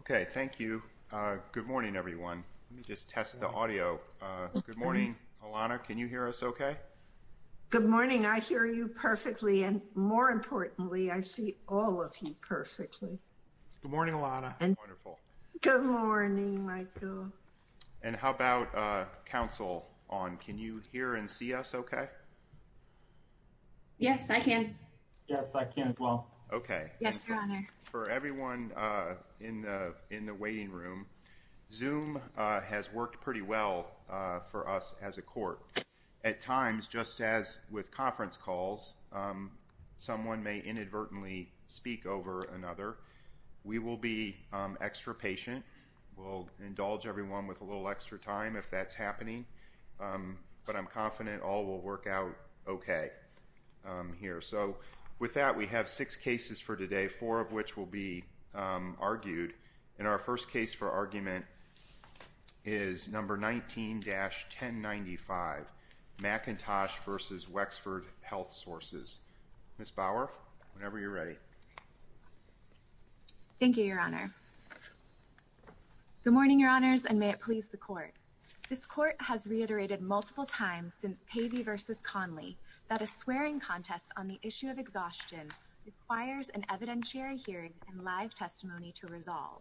Okay, thank you. Good morning, everyone. Let me just test the audio. Good morning. Alana. Can you hear us? Okay. Good morning. I hear you perfectly. And more importantly, I see all of you perfectly. Good morning, Alana and wonderful. Good morning, Michael. And how about counsel on? Can you hear and see us? Okay. Yes, I can. Yes, I can as well. Okay. Yes. For everyone in in the waiting room, Zoom has worked pretty well for us as a court at times, just as with conference calls. Someone may inadvertently speak over another. We will be extra patient. We'll indulge everyone with a little extra time if that's happening. But I'm confident all will work out okay here. So with that, we have six cases for today, four of which will be argued in our first case for argument is number 19 dash 10. Ninety five McIntosh versus Wexford Health Sources. Miss Bauer, whenever you're ready. Thank you, Your Honor. Good morning, Your Honors, and may it please the court. This court has reiterated multiple times since Pavey versus Conley that a swearing contest on the issue of exhaustion requires an evidentiary hearing and live testimony to resolve.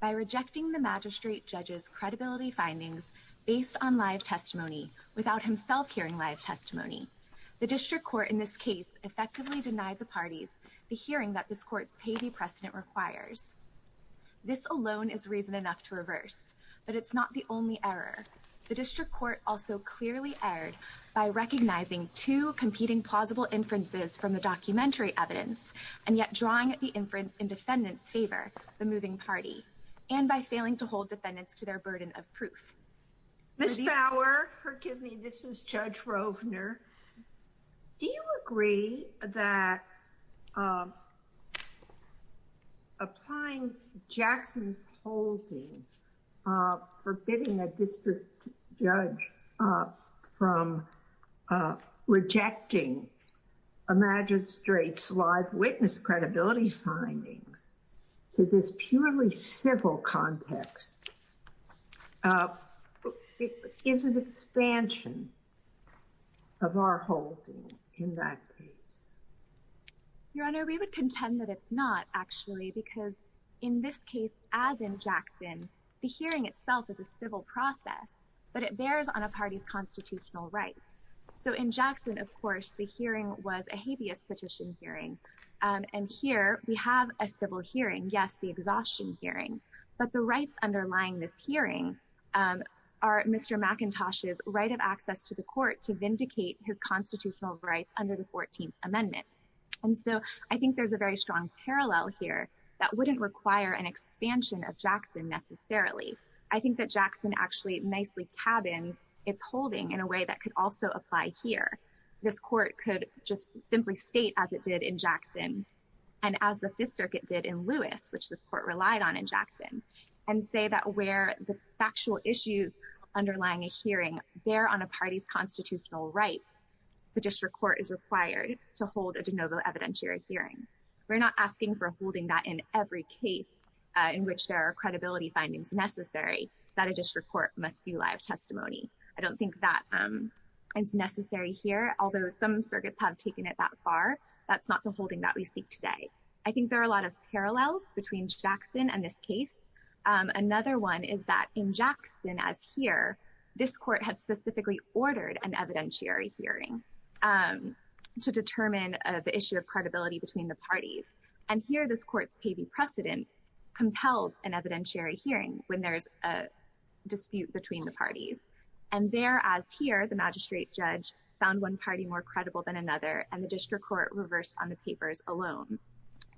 By rejecting the magistrate judge's credibility findings based on live testimony without himself hearing live testimony. The district court in this case effectively denied the parties the hearing that this court's Pavey precedent requires. This alone is reason enough to reverse, but it's not the only error. The district court also clearly erred by recognizing two competing plausible inferences from the documentary evidence and yet drawing the inference in defendants favor the moving party and by failing to hold defendants to their burden of proof. Miss Bauer, forgive me, this is Judge Rovner. Do you agree that applying Jackson's holding for bidding a district judge from rejecting a magistrate's live witness credibility findings to this purely civil context is an expansion of our holding in that case? Your Honor, we would contend that it's not, actually, because in this case, as in Jackson, the hearing itself is a civil process, but it bears on a party's constitutional rights. So in Jackson, of course, the hearing was a habeas petition hearing, and here we have a civil hearing. Yes, the exhaustion hearing, but the rights underlying this hearing are Mr. McIntosh's right of access to the court to vindicate his constitutional rights under the 14th Amendment. And so I think there's a very strong parallel here that wouldn't require an expansion of Jackson necessarily. I think that Jackson actually nicely cabins its holding in a way that could also apply here. This court could just simply state as it did in Jackson and as the Fifth Circuit did in Lewis, which this court relied on in Jackson, and say that where the factual issues underlying a hearing bear on a party's constitutional rights, the district court is required to hold a de novo evidentiary hearing. We're not asking for holding that in every case in which there are credibility findings necessary, that a district court must do live testimony. I don't think that is necessary here, although some circuits have taken it that far. That's not the holding that we seek today. I think there are a lot of parallels between Jackson and this case. Another one is that in Jackson, as here, this court had specifically ordered an evidentiary hearing to determine the issue of credibility between the parties. And here this court's paving precedent compelled an evidentiary hearing when there's a dispute between the parties. And there, as here, the magistrate judge found one party more credible than another, and the district court reversed on the papers alone.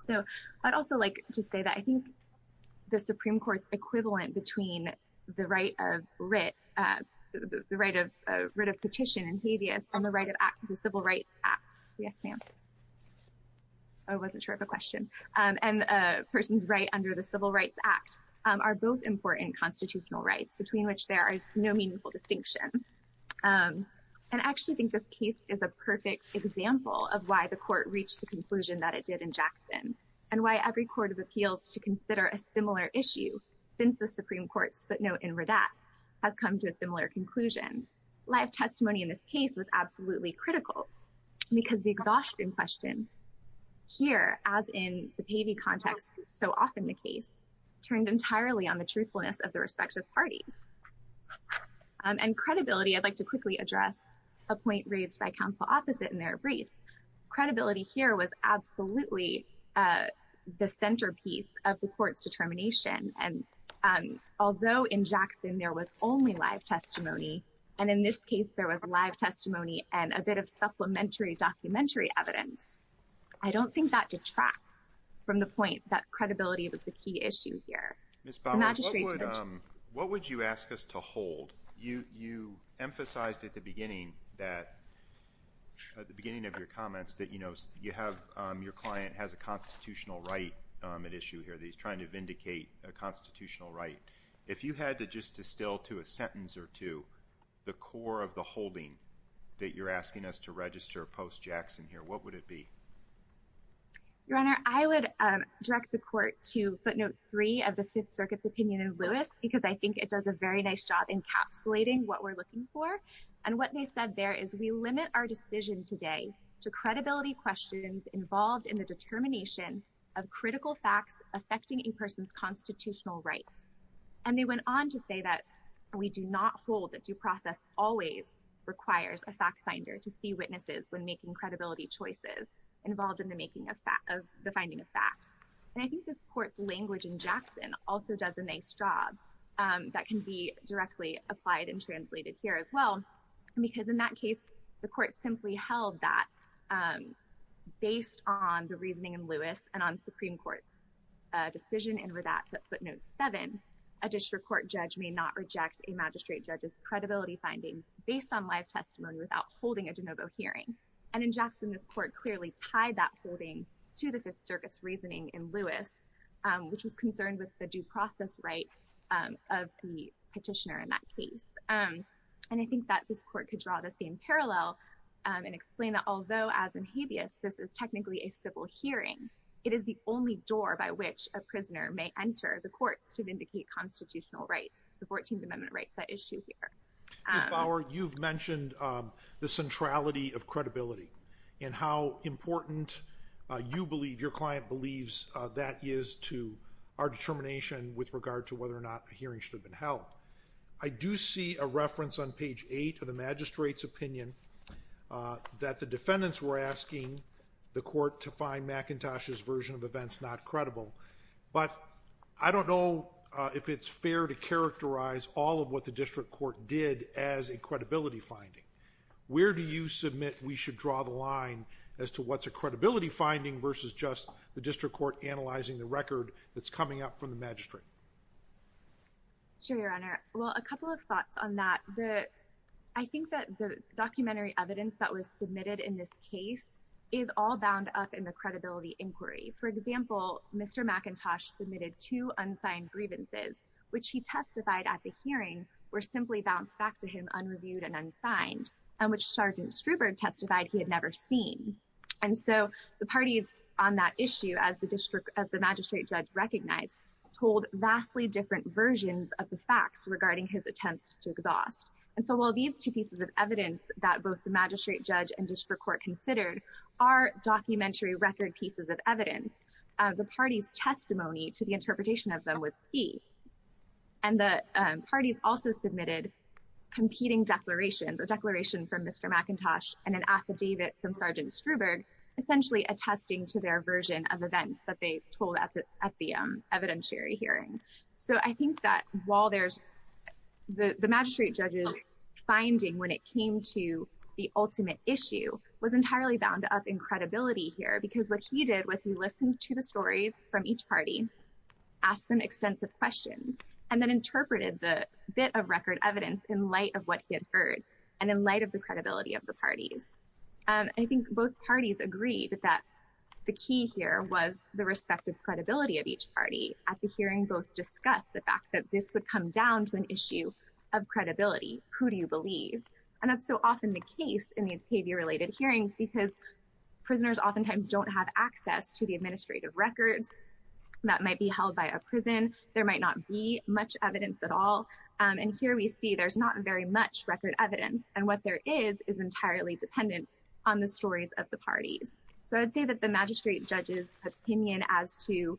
So I'd also like to say that I think the Supreme Court's equivalent between the right of writ, the right of writ of petition in habeas and the right of act, the Civil Rights Act. Yes, ma'am. I wasn't sure of the question. And a person's right under the Civil Rights Act are both important constitutional rights between which there is no meaningful distinction. And I actually think this case is a perfect example of why the court reached the conclusion that it did in Jackson and why every court of appeals to consider a similar issue since the Supreme Court's footnote in Redact has come to a similar conclusion. Live testimony in this case was absolutely critical because the exhaustion question here, as in the Pavy context, so often the case, turned entirely on the truthfulness of the respective parties. And credibility, I'd like to quickly address a point raised by counsel opposite in their briefs. Credibility here was absolutely the centerpiece of the court's determination. And although in Jackson there was only live testimony, and in this case there was live testimony and a bit of supplementary documentary evidence, I don't think that detracts from the point that credibility was the key issue here. Ms. Bowman, what would you ask us to hold? You emphasized at the beginning of your comments that your client has a constitutional right at issue here that he's trying to vindicate a constitutional right. If you had to just distill to a sentence or two the core of the holding that you're asking us to register post-Jackson here, what would it be? Your Honor, I would direct the court to footnote three of the Fifth Circuit's opinion in Lewis because I think it does a very nice job encapsulating what we're looking for. And what they said there is we limit our decision today to credibility questions involved in the determination of critical facts affecting a person's constitutional rights. And they went on to say that we do not hold that due process always requires a fact finder to see witnesses when making credibility choices involved in the finding of facts. And I think this court's language in Jackson also does a nice job that can be directly applied and translated here as well. Because in that case, the court simply held that based on the reasoning in Lewis and on the Supreme Court's decision in Radatz at footnote seven, a district court judge may not reject a magistrate judge's credibility finding based on live testimony without holding a de novo hearing. And in Jackson, this court clearly tied that holding to the Fifth Circuit's reasoning in Lewis, which was concerned with the due process right of the petitioner in that case. And I think that this court could draw the same parallel and explain that although as in Habeas, this is technically a civil hearing, it is the only door by which a prisoner may enter the courts to vindicate constitutional rights, the 14th Amendment rights that issue here. You've mentioned the centrality of credibility and how important you believe your client believes that is to our determination with regard to whether or not a hearing should have been held. I do see a reference on page eight of the magistrate's opinion that the defendants were asking the court to find McIntosh's version of events not credible. But I don't know if it's fair to characterize all of what the district court did as a credibility finding. Where do you submit we should draw the line as to what's a credibility finding versus just the district court analyzing the record that's coming up from the magistrate? Sure, Your Honor. Well, a couple of thoughts on that. I think that the documentary evidence that was submitted in this case is all bound up in the credibility inquiry. For example, Mr. McIntosh submitted two unsigned grievances, which he testified at the hearing, were simply bounced back to him unreviewed and unsigned, and which Sergeant Struberg testified he had never seen. And so the parties on that issue, as the magistrate judge recognized, told vastly different versions of the facts regarding his attempts to exhaust. And so while these two pieces of evidence that both the magistrate judge and district court considered are documentary record pieces of evidence, the party's testimony to the interpretation of them was key. And the parties also submitted competing declarations, a declaration from Mr. McIntosh and an affidavit from Sergeant Struberg, essentially attesting to their version of events that they told at the evidentiary hearing. So I think that while there's the magistrate judge's finding when it came to the ultimate issue was entirely bound up in credibility here, because what he did was he listened to the stories from each party, asked them extensive questions, and then interpreted the bit of record evidence in light of what he had heard, and in light of the credibility of the parties. And I think both parties agreed that the key here was the respective credibility of each party. At the hearing, both discussed the fact that this would come down to an issue of credibility. Who do you believe? And that's so often the case in these behavior-related hearings, because prisoners oftentimes don't have access to the administrative records that might be held by a prison. There might not be much evidence at all. And here we see there's not very much record evidence, and what there is is entirely dependent on the stories of the parties. So I'd say that the magistrate judge's opinion as to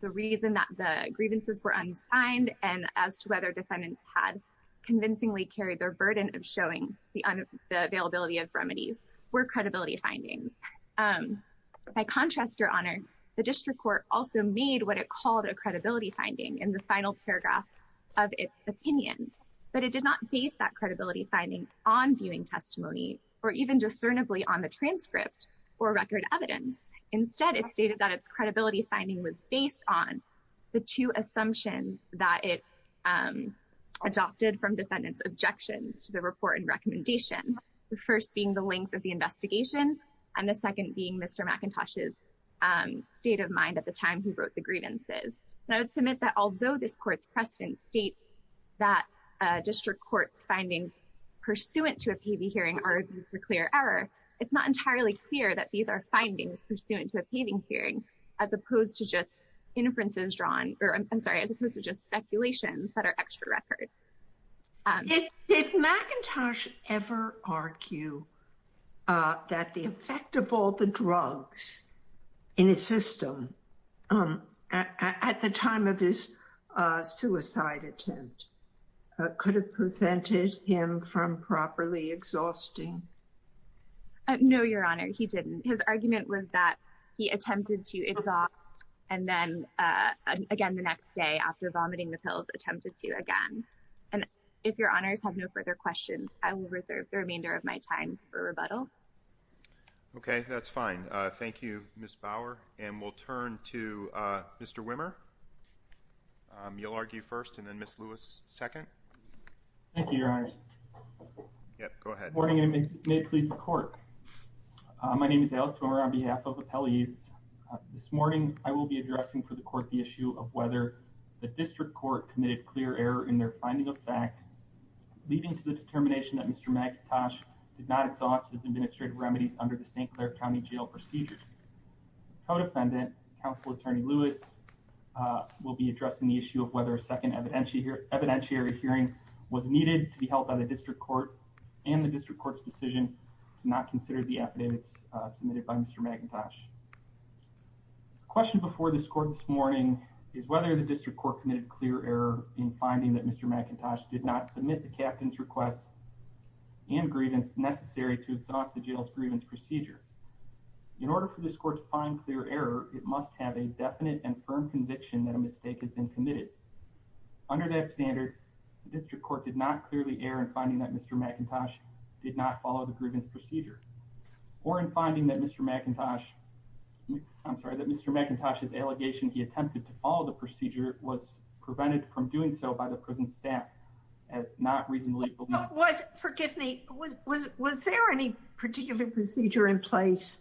the reason that the grievances were unsigned and as to whether defendants had convincingly carried their burden of showing the availability of remedies were credibility findings. By contrast, Your Honor, the district court also made what it called a credibility finding in the final paragraph of its opinion. But it did not base that credibility finding on viewing testimony or even discernibly on the transcript or record evidence. Instead, it stated that its credibility finding was based on the two assumptions that it adopted from defendants' objections to the report and recommendation, the first being the length of the investigation and the second being Mr. McIntosh's state of mind at the time he wrote the grievances. And I would submit that although this court's precedent states that district court's findings pursuant to a paving hearing are a clear error, it's not entirely clear that these are findings pursuant to a paving hearing as opposed to just inferences drawn, or I'm sorry, as opposed to just speculations that are extra record. Did McIntosh ever argue that the effect of all the drugs in his system at the time of his suicide attempt could have prevented him from properly exhausting? No, Your Honor, he didn't. His argument was that he attempted to exhaust and then again the next day after vomiting the pills attempted to again. And if Your Honors have no further questions, I will reserve the remainder of my time for rebuttal. Okay, that's fine. Thank you, Ms. Bauer. And we'll turn to Mr. Wimmer. You'll argue first and then Ms. Lewis second. Yeah, go ahead. Good morning and may it please the court. My name is Alex Wimmer on behalf of appellees. This morning, I will be addressing for the court the issue of whether the district court committed clear error in their finding of fact, leading to the determination that Mr. McIntosh did not exhaust his administrative remedies under the St. Clair County Jail procedure. Co-defendant, counsel attorney Lewis, will be addressing the issue of whether a second evidentiary hearing was needed to be held by the district court and the district court's decision to not consider the affidavits submitted by Mr. McIntosh. The question before this court this morning is whether the district court committed clear error in finding that Mr. McIntosh did not submit the captain's request and grievance necessary to exhaust the jail's grievance procedure. In order for this court to find clear error, it must have a definite and firm conviction that a mistake has been committed. Under that standard, the district court did not clearly err in finding that Mr. McIntosh did not follow the grievance procedure. Or in finding that Mr. McIntosh, I'm sorry, that Mr. McIntosh's allegation he attempted to follow the procedure was prevented from doing so by the prison staff as not reasonably believed. Forgive me, was there any particular procedure in place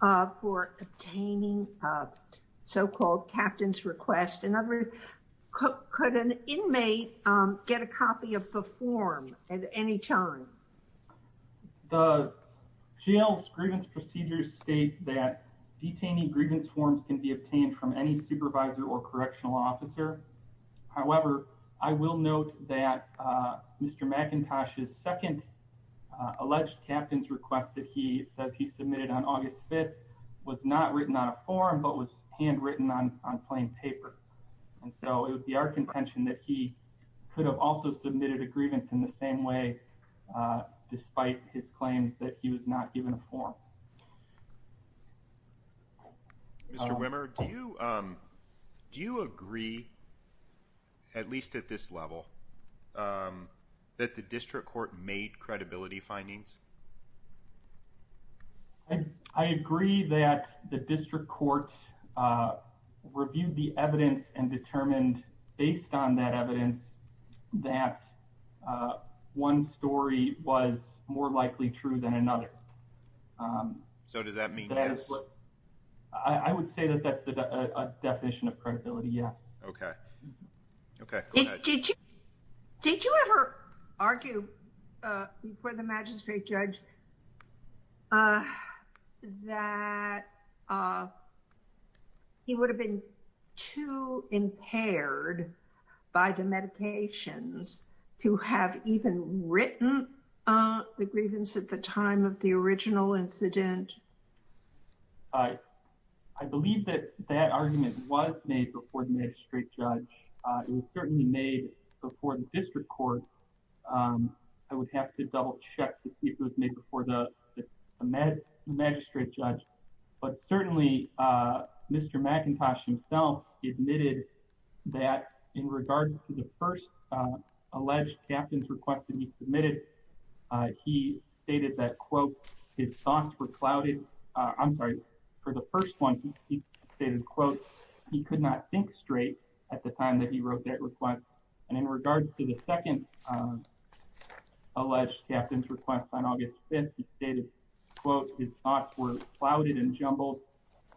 for obtaining so-called captain's request? Could an inmate get a copy of the form at any time? The jail's grievance procedures state that detaining grievance forms can be obtained from any supervisor or correctional officer. However, I will note that Mr. McIntosh's second alleged captain's request that he says he submitted on August 5th was not written on a form but was handwritten on plain paper. And so it would be our contention that he could have also submitted a grievance in the same way despite his claims that he was not given a form. Mr. Wimmer, do you agree, at least at this level, that the district court made credibility findings? I agree that the district court reviewed the evidence and determined based on that evidence that one story was more likely true than another. So does that mean yes? I would say that that's a definition of credibility, yes. Okay. Okay. Did you ever argue before the magistrate judge that he would have been too impaired by the medications to have even written the grievance at the time of the original incident? I believe that that argument was made before the magistrate judge. It was certainly made before the district court. I would have to double check to see if it was made before the magistrate judge. But certainly, Mr. McIntosh himself admitted that in regards to the first alleged captain's request that he submitted, he stated that, quote, his thoughts were clouded. I'm sorry, for the first one, he stated, quote, he could not think straight at the time that he wrote that request. And in regards to the second alleged captain's request on August 5th, he stated, quote, his thoughts were clouded and jumbled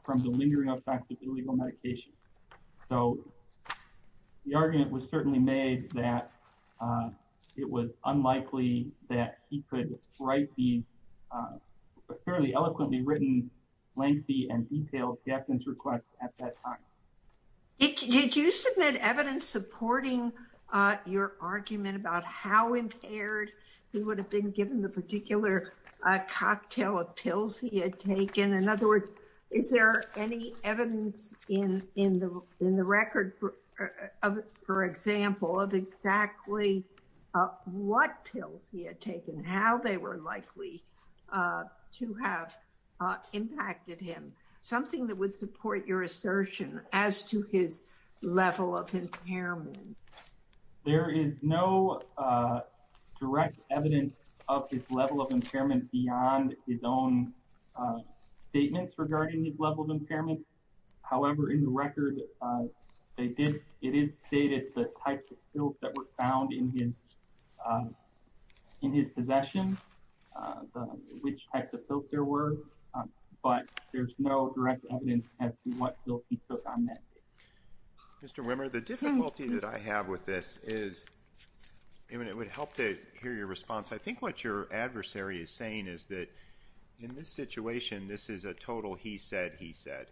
from the lingering effects of illegal medication. So the argument was certainly made that it was unlikely that he could write the fairly eloquently written lengthy and detailed captain's request at that time. Did you submit evidence supporting your argument about how impaired he would have been given the particular cocktail of pills he had taken? In other words, is there any evidence in the record, for example, of exactly what pills he had taken, how they were likely to have impacted him? Something that would support your assertion as to his level of impairment. There is no direct evidence of his level of impairment beyond his own statements regarding his level of impairment. However, in the record, it is stated the types of pills that were found in his possession, which types of pills there were, but there's no direct evidence as to what pills he took on that day. Mr. Wimmer, the difficulty that I have with this is, and it would help to hear your response, I think what your adversary is saying is that in this situation, this is a total he said, he said.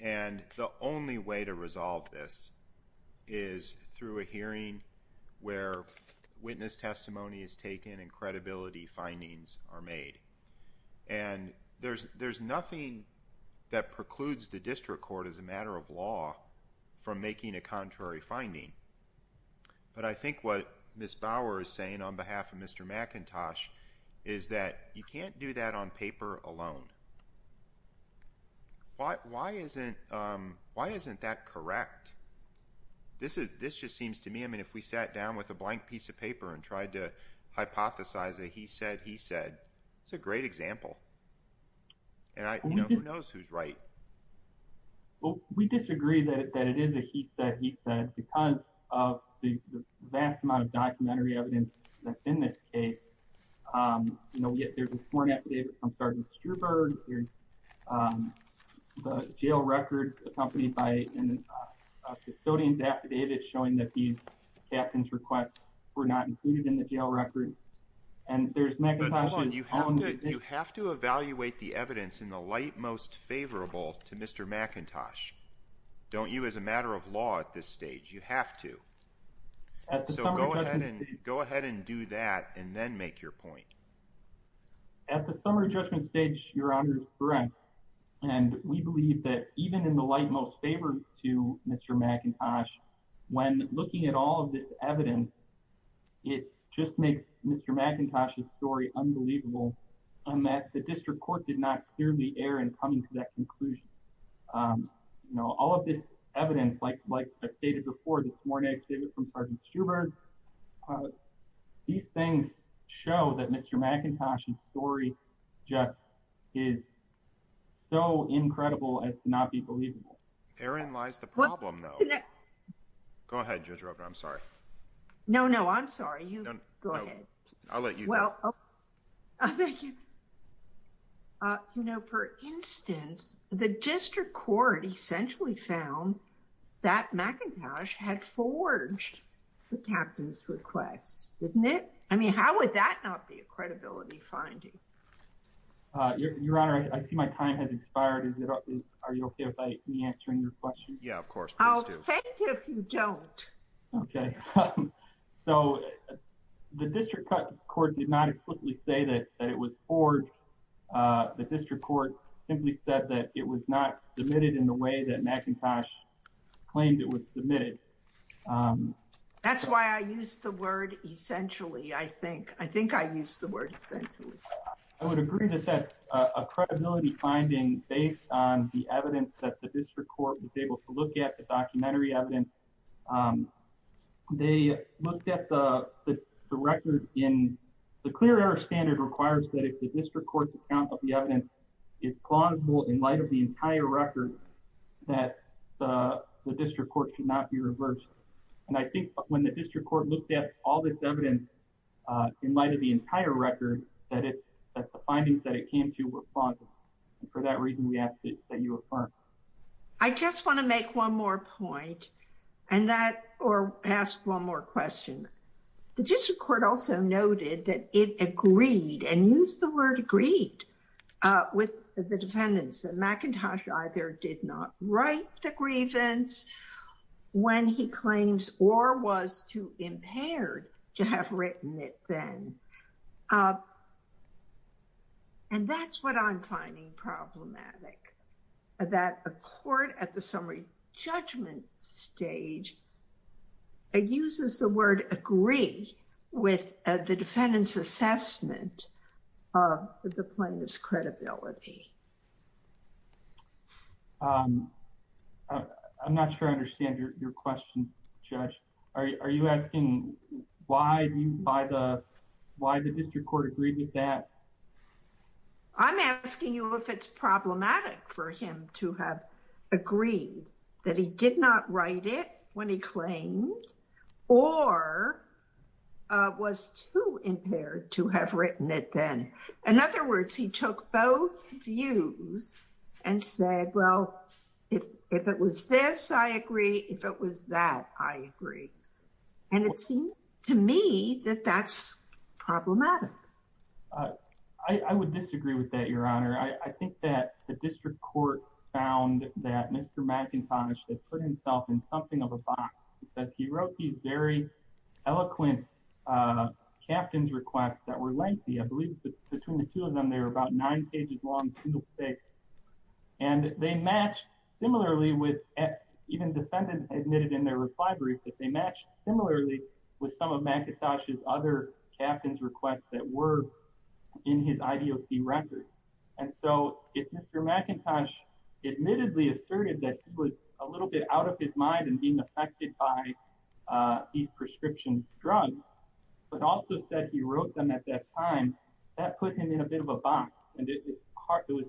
And the only way to resolve this is through a hearing where witness testimony is taken and credibility findings are made. And there's nothing that precludes the district court, as a matter of law, from making a contrary finding. But I think what Ms. Bauer is saying on behalf of Mr. McIntosh is that you can't do that on paper alone. Why isn't that correct? This just seems to me, I mean, if we sat down with a blank piece of paper and tried to hypothesize a he said, he said, it's a great example. And who knows who's right? Well, we disagree that it is a he said, he said, because of the vast amount of documentary evidence that's in this case. You know, there's a sworn affidavit from Sergeant Struberg, the jail record accompanied by a custodian's affidavit showing that these captains' requests were not included in the jail record. You have to evaluate the evidence in the light most favorable to Mr. McIntosh. Don't you, as a matter of law at this stage, you have to. So go ahead and go ahead and do that and then make your point. At the summer judgment stage, Your Honor is correct. And we believe that even in the light most favorable to Mr. McIntosh, when looking at all of this evidence, it just makes Mr. McIntosh's story unbelievable. And that the district court did not clearly err in coming to that conclusion. You know, all of this evidence, like I stated before, the sworn affidavit from Sergeant Struberg. These things show that Mr. McIntosh's story just is so incredible as to not be believable. Therein lies the problem, though. Go ahead, Judge Roper. I'm sorry. No, no, I'm sorry. You go ahead. I'll let you go. Thank you. You know, for instance, the district court essentially found that McIntosh had forged the captain's request, didn't it? I mean, how would that not be a credibility finding? Your Honor, I see my time has expired. Are you okay with me answering your question? Yeah, of course, please do. I'll thank you if you don't. Okay, so the district court did not explicitly say that it was forged. The district court simply said that it was not submitted in the way that McIntosh claimed it was submitted. That's why I used the word essentially, I think. I think I used the word essentially. I would agree that that's a credibility finding based on the evidence that the district court was able to look at, the documentary evidence. They looked at the record. The clear error standard requires that if the district court's account of the evidence is plausible in light of the entire record, that the district court should not be reversed. And I think when the district court looked at all this evidence in light of the entire record, that the findings that it came to were plausible. For that reason, we ask that you affirm. I just want to make one more point and that, or ask one more question. The district court also noted that it agreed and used the word agreed with the defendants that McIntosh either did not write the grievance when he claims or was too impaired to have written it then. And that's what I'm finding problematic. That a court at the summary judgment stage uses the word agree with the defendant's assessment of the plaintiff's credibility. I'm not sure I understand your question, Judge. Are you asking why the district court agreed with that? I'm asking you if it's problematic for him to have agreed that he did not write it when he claimed or was too impaired to have written it then. In other words, he took both views and said, well, if it was this, I agree. If it was that, I agree. And it seems to me that that's problematic. I would disagree with that, Your Honor. I think that the district court found that Mr. McIntosh has put himself in something of a box. He wrote these very eloquent captain's requests that were lengthy. I believe between the two of them, they were about nine pages long. And they matched similarly with even defendants admitted in their reply brief that they matched similarly with some of McIntosh's other captain's requests that were in his IDOC record. And so if Mr. McIntosh admittedly asserted that he was a little bit out of his mind and being affected by these prescription drugs, but also said he wrote them at that time, that put him in a bit of a box. And it was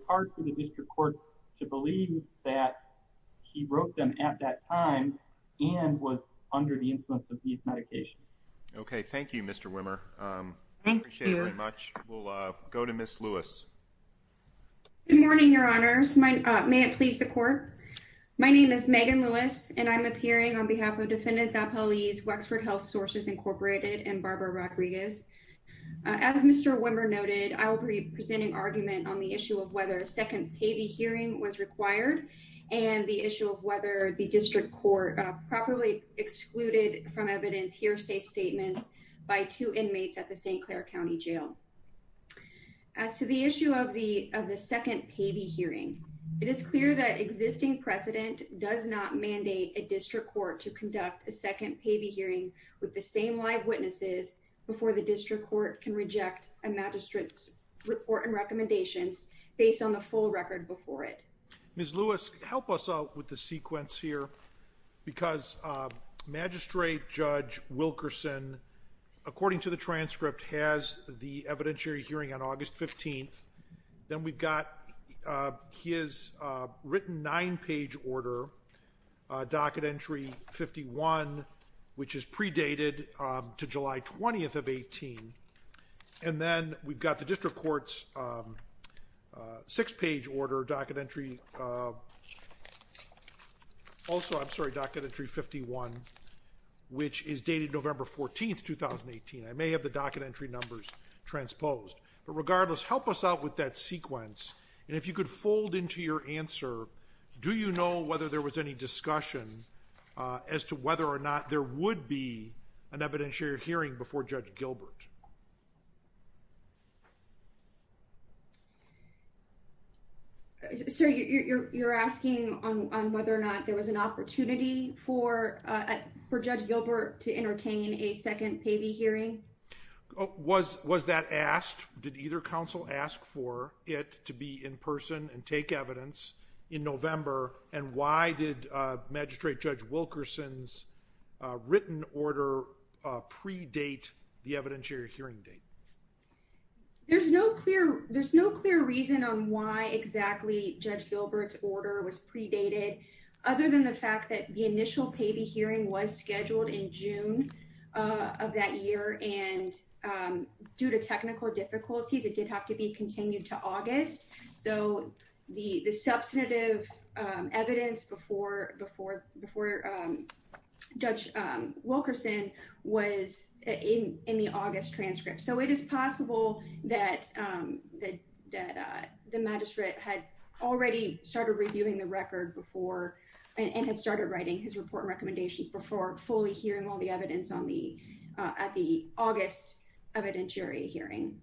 hard for the district court to believe that he wrote them at that time and was under the influence of these medications. Okay. Thank you, Mr. Wimmer. I appreciate it very much. We'll go to Ms. Lewis. Good morning, Your Honors. May it please the court. My name is Megan Lewis, and I'm appearing on behalf of Defendants Appellees, Wexford Health Sources Incorporated, and Barbara Rodriguez. As Mr. Wimmer noted, I will be presenting argument on the issue of whether a second payee hearing was required and the issue of whether the district court properly excluded from evidence hearsay statements by two inmates at the St. Clair County Jail. As to the issue of the second payee hearing, it is clear that existing precedent does not mandate a district court to conduct a second payee hearing with the same live witnesses before the district court can reject a magistrate's report and recommendations based on the full record before it. Ms. Lewis, help us out with the sequence here, because Magistrate Judge Wilkerson, according to the transcript, has the evidentiary hearing on August 15th. Then we've got his written nine-page order, Docket Entry 51, which is predated to July 20th of 18, and then we've got the district court's six-page order, Docket Entry 51, which is dated November 14th, 2018. I may have the Docket Entry numbers transposed, but regardless, help us out with that sequence, and if you could fold into your answer, do you know whether there was any discussion as to whether or not there would be an evidentiary hearing before Judge Gilbert? Sir, you're asking on whether or not there was an opportunity for Judge Gilbert to entertain a second payee hearing? Was that asked? Did either counsel ask for it to be in person and take evidence in November, and why did Magistrate Judge Wilkerson's written order predate the evidentiary hearing date? There's no clear reason on why exactly Judge Gilbert's order was predated, other than the fact that the initial payee hearing was scheduled in June of that year, and due to technical difficulties, it did have to be continued to August. So the substantive evidence before Judge Wilkerson was in the August transcript, so it is possible that the magistrate had already started reviewing the record and had started writing his report and recommendations before fully hearing all the evidence at the August evidentiary hearing.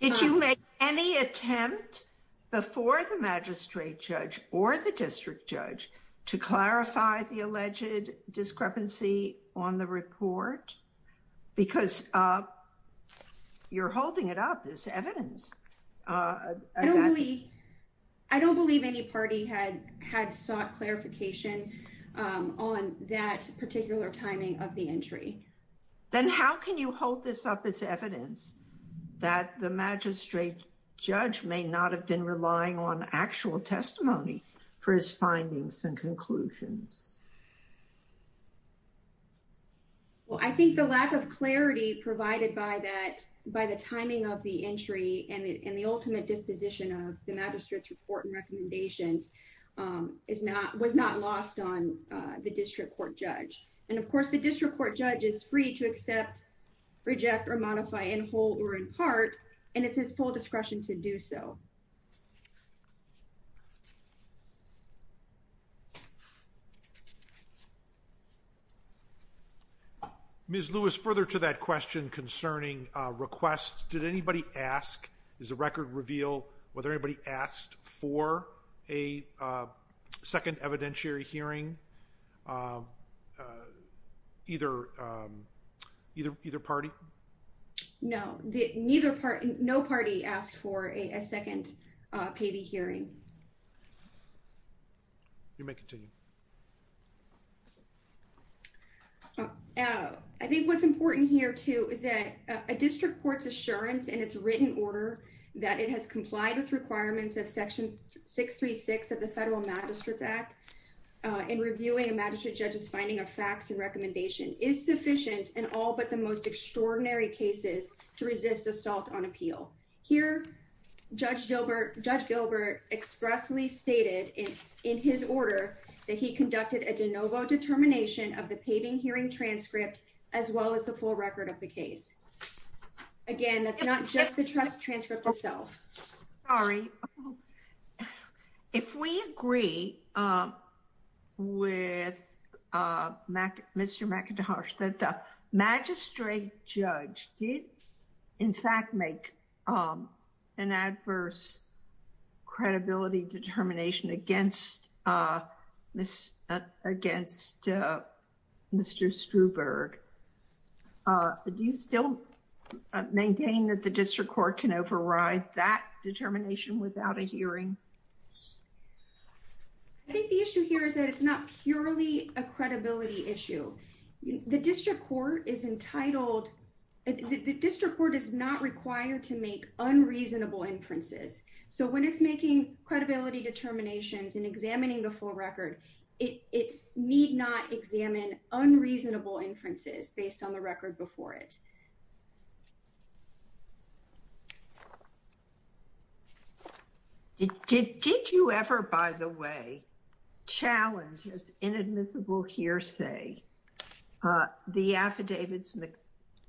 Did you make any attempt before the magistrate judge or the district judge to clarify the alleged discrepancy on the report? Because you're holding it up as evidence. I don't believe any party had sought clarification on that particular timing of the entry. Then how can you hold this up as evidence that the magistrate judge may not have been relying on actual testimony for his findings and conclusions? Well, I think the lack of clarity provided by the timing of the entry and the ultimate disposition of the magistrate's report and recommendations was not lost on the district court judge. And of course, the district court judge is free to accept, reject, or modify in whole or in part, and it's his full discretion to do so. Ms. Lewis, further to that question concerning requests, did anybody ask, is the record reveal whether anybody asked for a second evidentiary hearing? Either party? No, no party asked for a second payee hearing. You may continue. I think what's important here, too, is that a district court's assurance in its written order that it has complied with requirements of Section 636 of the Federal Magistrates Act in reviewing a magistrate judge's finding of facts and recommendation is sufficient in all but the most extraordinary cases to resist assault on appeal. Here, Judge Gilbert expressly stated in his order that he conducted a de novo determination of the paving hearing transcript as well as the full record of the case. Again, that's not just the transcript itself. Sorry. If we agree with Mr. McIntosh that the magistrate judge did, in fact, make an adverse credibility determination against Mr. Struberg, do you still maintain that the district court can override that determination without a hearing? I think the issue here is that it's not purely a credibility issue. The district court is not required to make unreasonable inferences. So when it's making credibility determinations and examining the full record, it need not examine unreasonable inferences based on the record before it. Did you ever, by the way, challenge as inadmissible hearsay the affidavits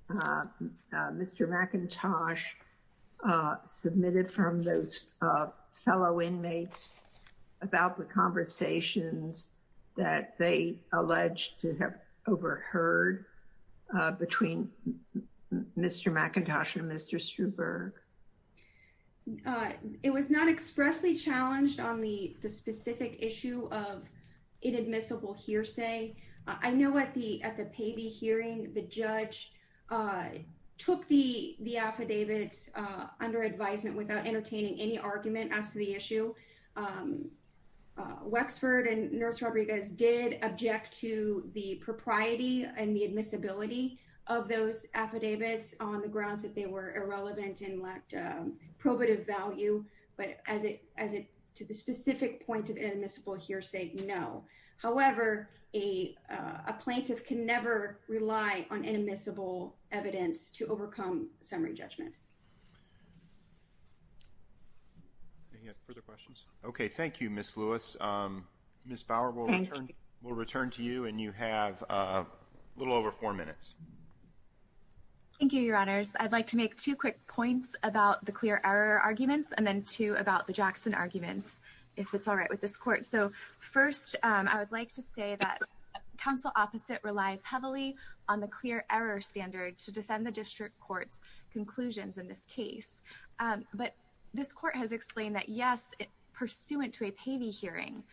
Mr. McIntosh submitted from those fellow inmates about the conversations that they alleged to have overheard between Mr. McIntosh and Mr. Struberg? It was not expressly challenged on the specific issue of inadmissible hearsay. I know at the Pavey hearing, the judge took the affidavits under advisement without entertaining any argument as to the issue. Wexford and Nurse Rodriguez did object to the propriety and the admissibility of those affidavits on the grounds that they were irrelevant and lacked probative value. But to the specific point of inadmissible hearsay, no. However, a plaintiff can never rely on inadmissible evidence to overcome summary judgment. Any further questions? Okay, thank you, Ms. Lewis. Ms. Bauer, we'll return to you, and you have a little over four minutes. Thank you, Your Honors. I'd like to make two quick points about the clear error arguments and then two about the Jackson arguments, if it's all right with this Court. So first, I would like to say that counsel opposite relies heavily on the clear error standard to defend the district court's conclusions in this case. But this court has explained that, yes, pursuant to a Pavey hearing,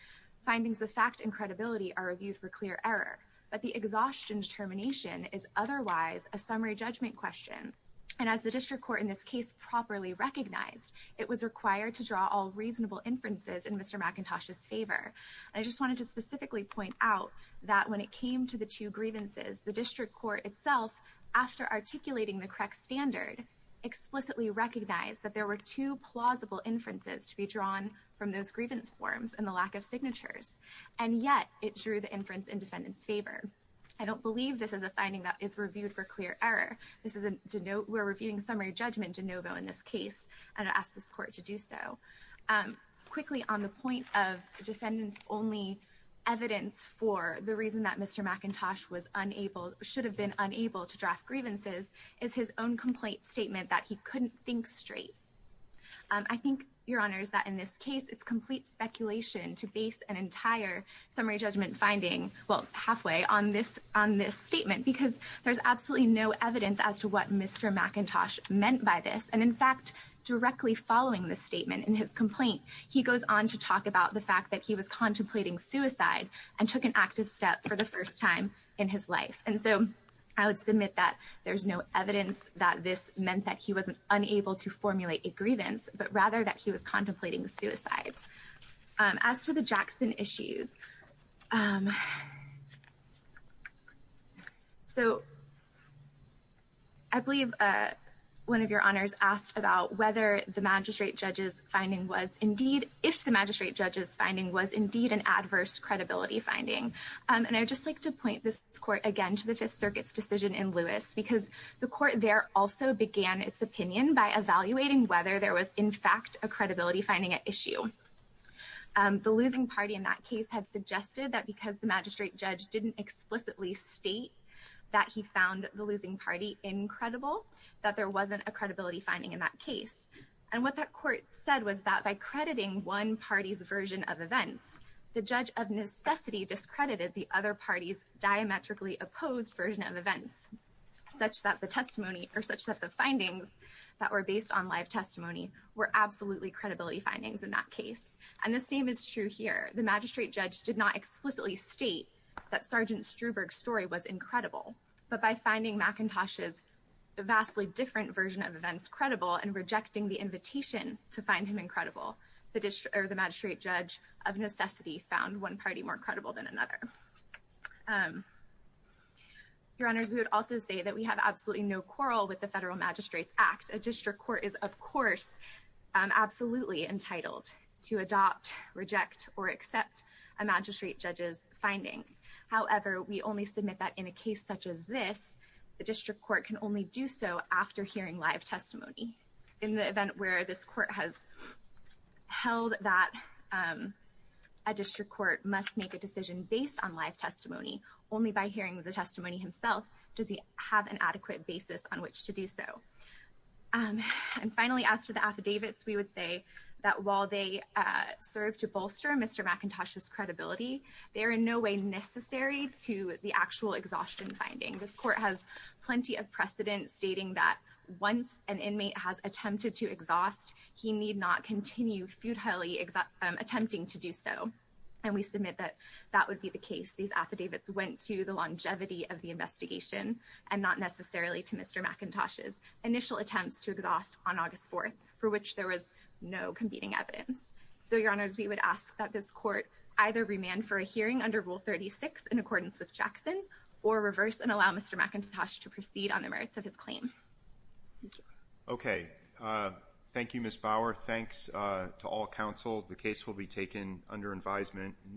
findings of fact and credibility are reviewed for clear error. But the exhaustion determination is otherwise a summary judgment question. And as the district court in this case properly recognized, it was required to draw all reasonable inferences in Mr. McIntosh's favor. I just wanted to specifically point out that when it came to the two grievances, the district court itself, after articulating the correct standard, explicitly recognized that there were two plausible inferences to be drawn from those grievance forms and the lack of signatures. And yet, it drew the inference in defendant's favor. I don't believe this is a finding that is reviewed for clear error. We're reviewing summary judgment de novo in this case, and I ask this court to do so. Quickly, on the point of defendant's only evidence for the reason that Mr. McIntosh should have been unable to draft grievances is his own complaint statement that he couldn't think straight. I think, Your Honors, that in this case, it's complete speculation to base an entire summary judgment finding, well, halfway, on this statement because there's absolutely no evidence as to what Mr. McIntosh meant by this. And in fact, directly following this statement in his complaint, he goes on to talk about the fact that he was contemplating suicide and took an active step for the first time in his life. And so, I would submit that there's no evidence that this meant that he wasn't unable to formulate a grievance, but rather that he was contemplating suicide. As to the Jackson issues, I believe one of Your Honors asked about whether the magistrate judge's finding was indeed, if the magistrate judge's finding was indeed an adverse credibility finding. And I would just like to point this court again to the Fifth Circuit's decision in Lewis because the court there also began its opinion by evaluating whether there was in fact a credibility finding at issue. The losing party in that case had suggested that because the magistrate judge didn't explicitly state that he found the losing party incredible, that there wasn't a credibility finding in that case. And what that court said was that by crediting one party's version of events, the judge of necessity discredited the other party's diametrically opposed version of events, such that the findings that were based on live testimony were absolutely credibility findings in that case. And the same is true here. The magistrate judge did not explicitly state that Sergeant Struberg's story was incredible, but by finding McIntosh's vastly different version of events credible and rejecting the invitation to find him incredible, the magistrate judge of necessity found one party more credible than another. Your Honors, we would also say that we have absolutely no quarrel with the Federal Magistrates Act. A district court is, of course, absolutely entitled to adopt, reject, or accept a magistrate judge's findings. However, we only submit that in a case such as this, the district court can only do so after hearing live testimony. In the event where this court has held that a district court must make a decision based on live testimony, only by hearing the testimony himself does he have an adequate basis on which to do so. And finally, as to the affidavits, we would say that while they serve to bolster Mr. McIntosh's credibility, they are in no way necessary to the actual exhaustion finding. This court has plenty of precedent stating that once an inmate has attempted to exhaust, he need not continue futilely attempting to do so. And we submit that that would be the case. These affidavits went to the longevity of the investigation and not necessarily to Mr. McIntosh's initial attempts to exhaust on August 4th, for which there was no competing evidence. So, Your Honors, we would ask that this court either remand for a hearing under Rule 36 in accordance with Jackson or reverse and allow Mr. McIntosh to proceed on the merits of his claim. Thank you. Okay. Thank you, Ms. Bauer. Thanks to all counsel. The case will be taken under advisement.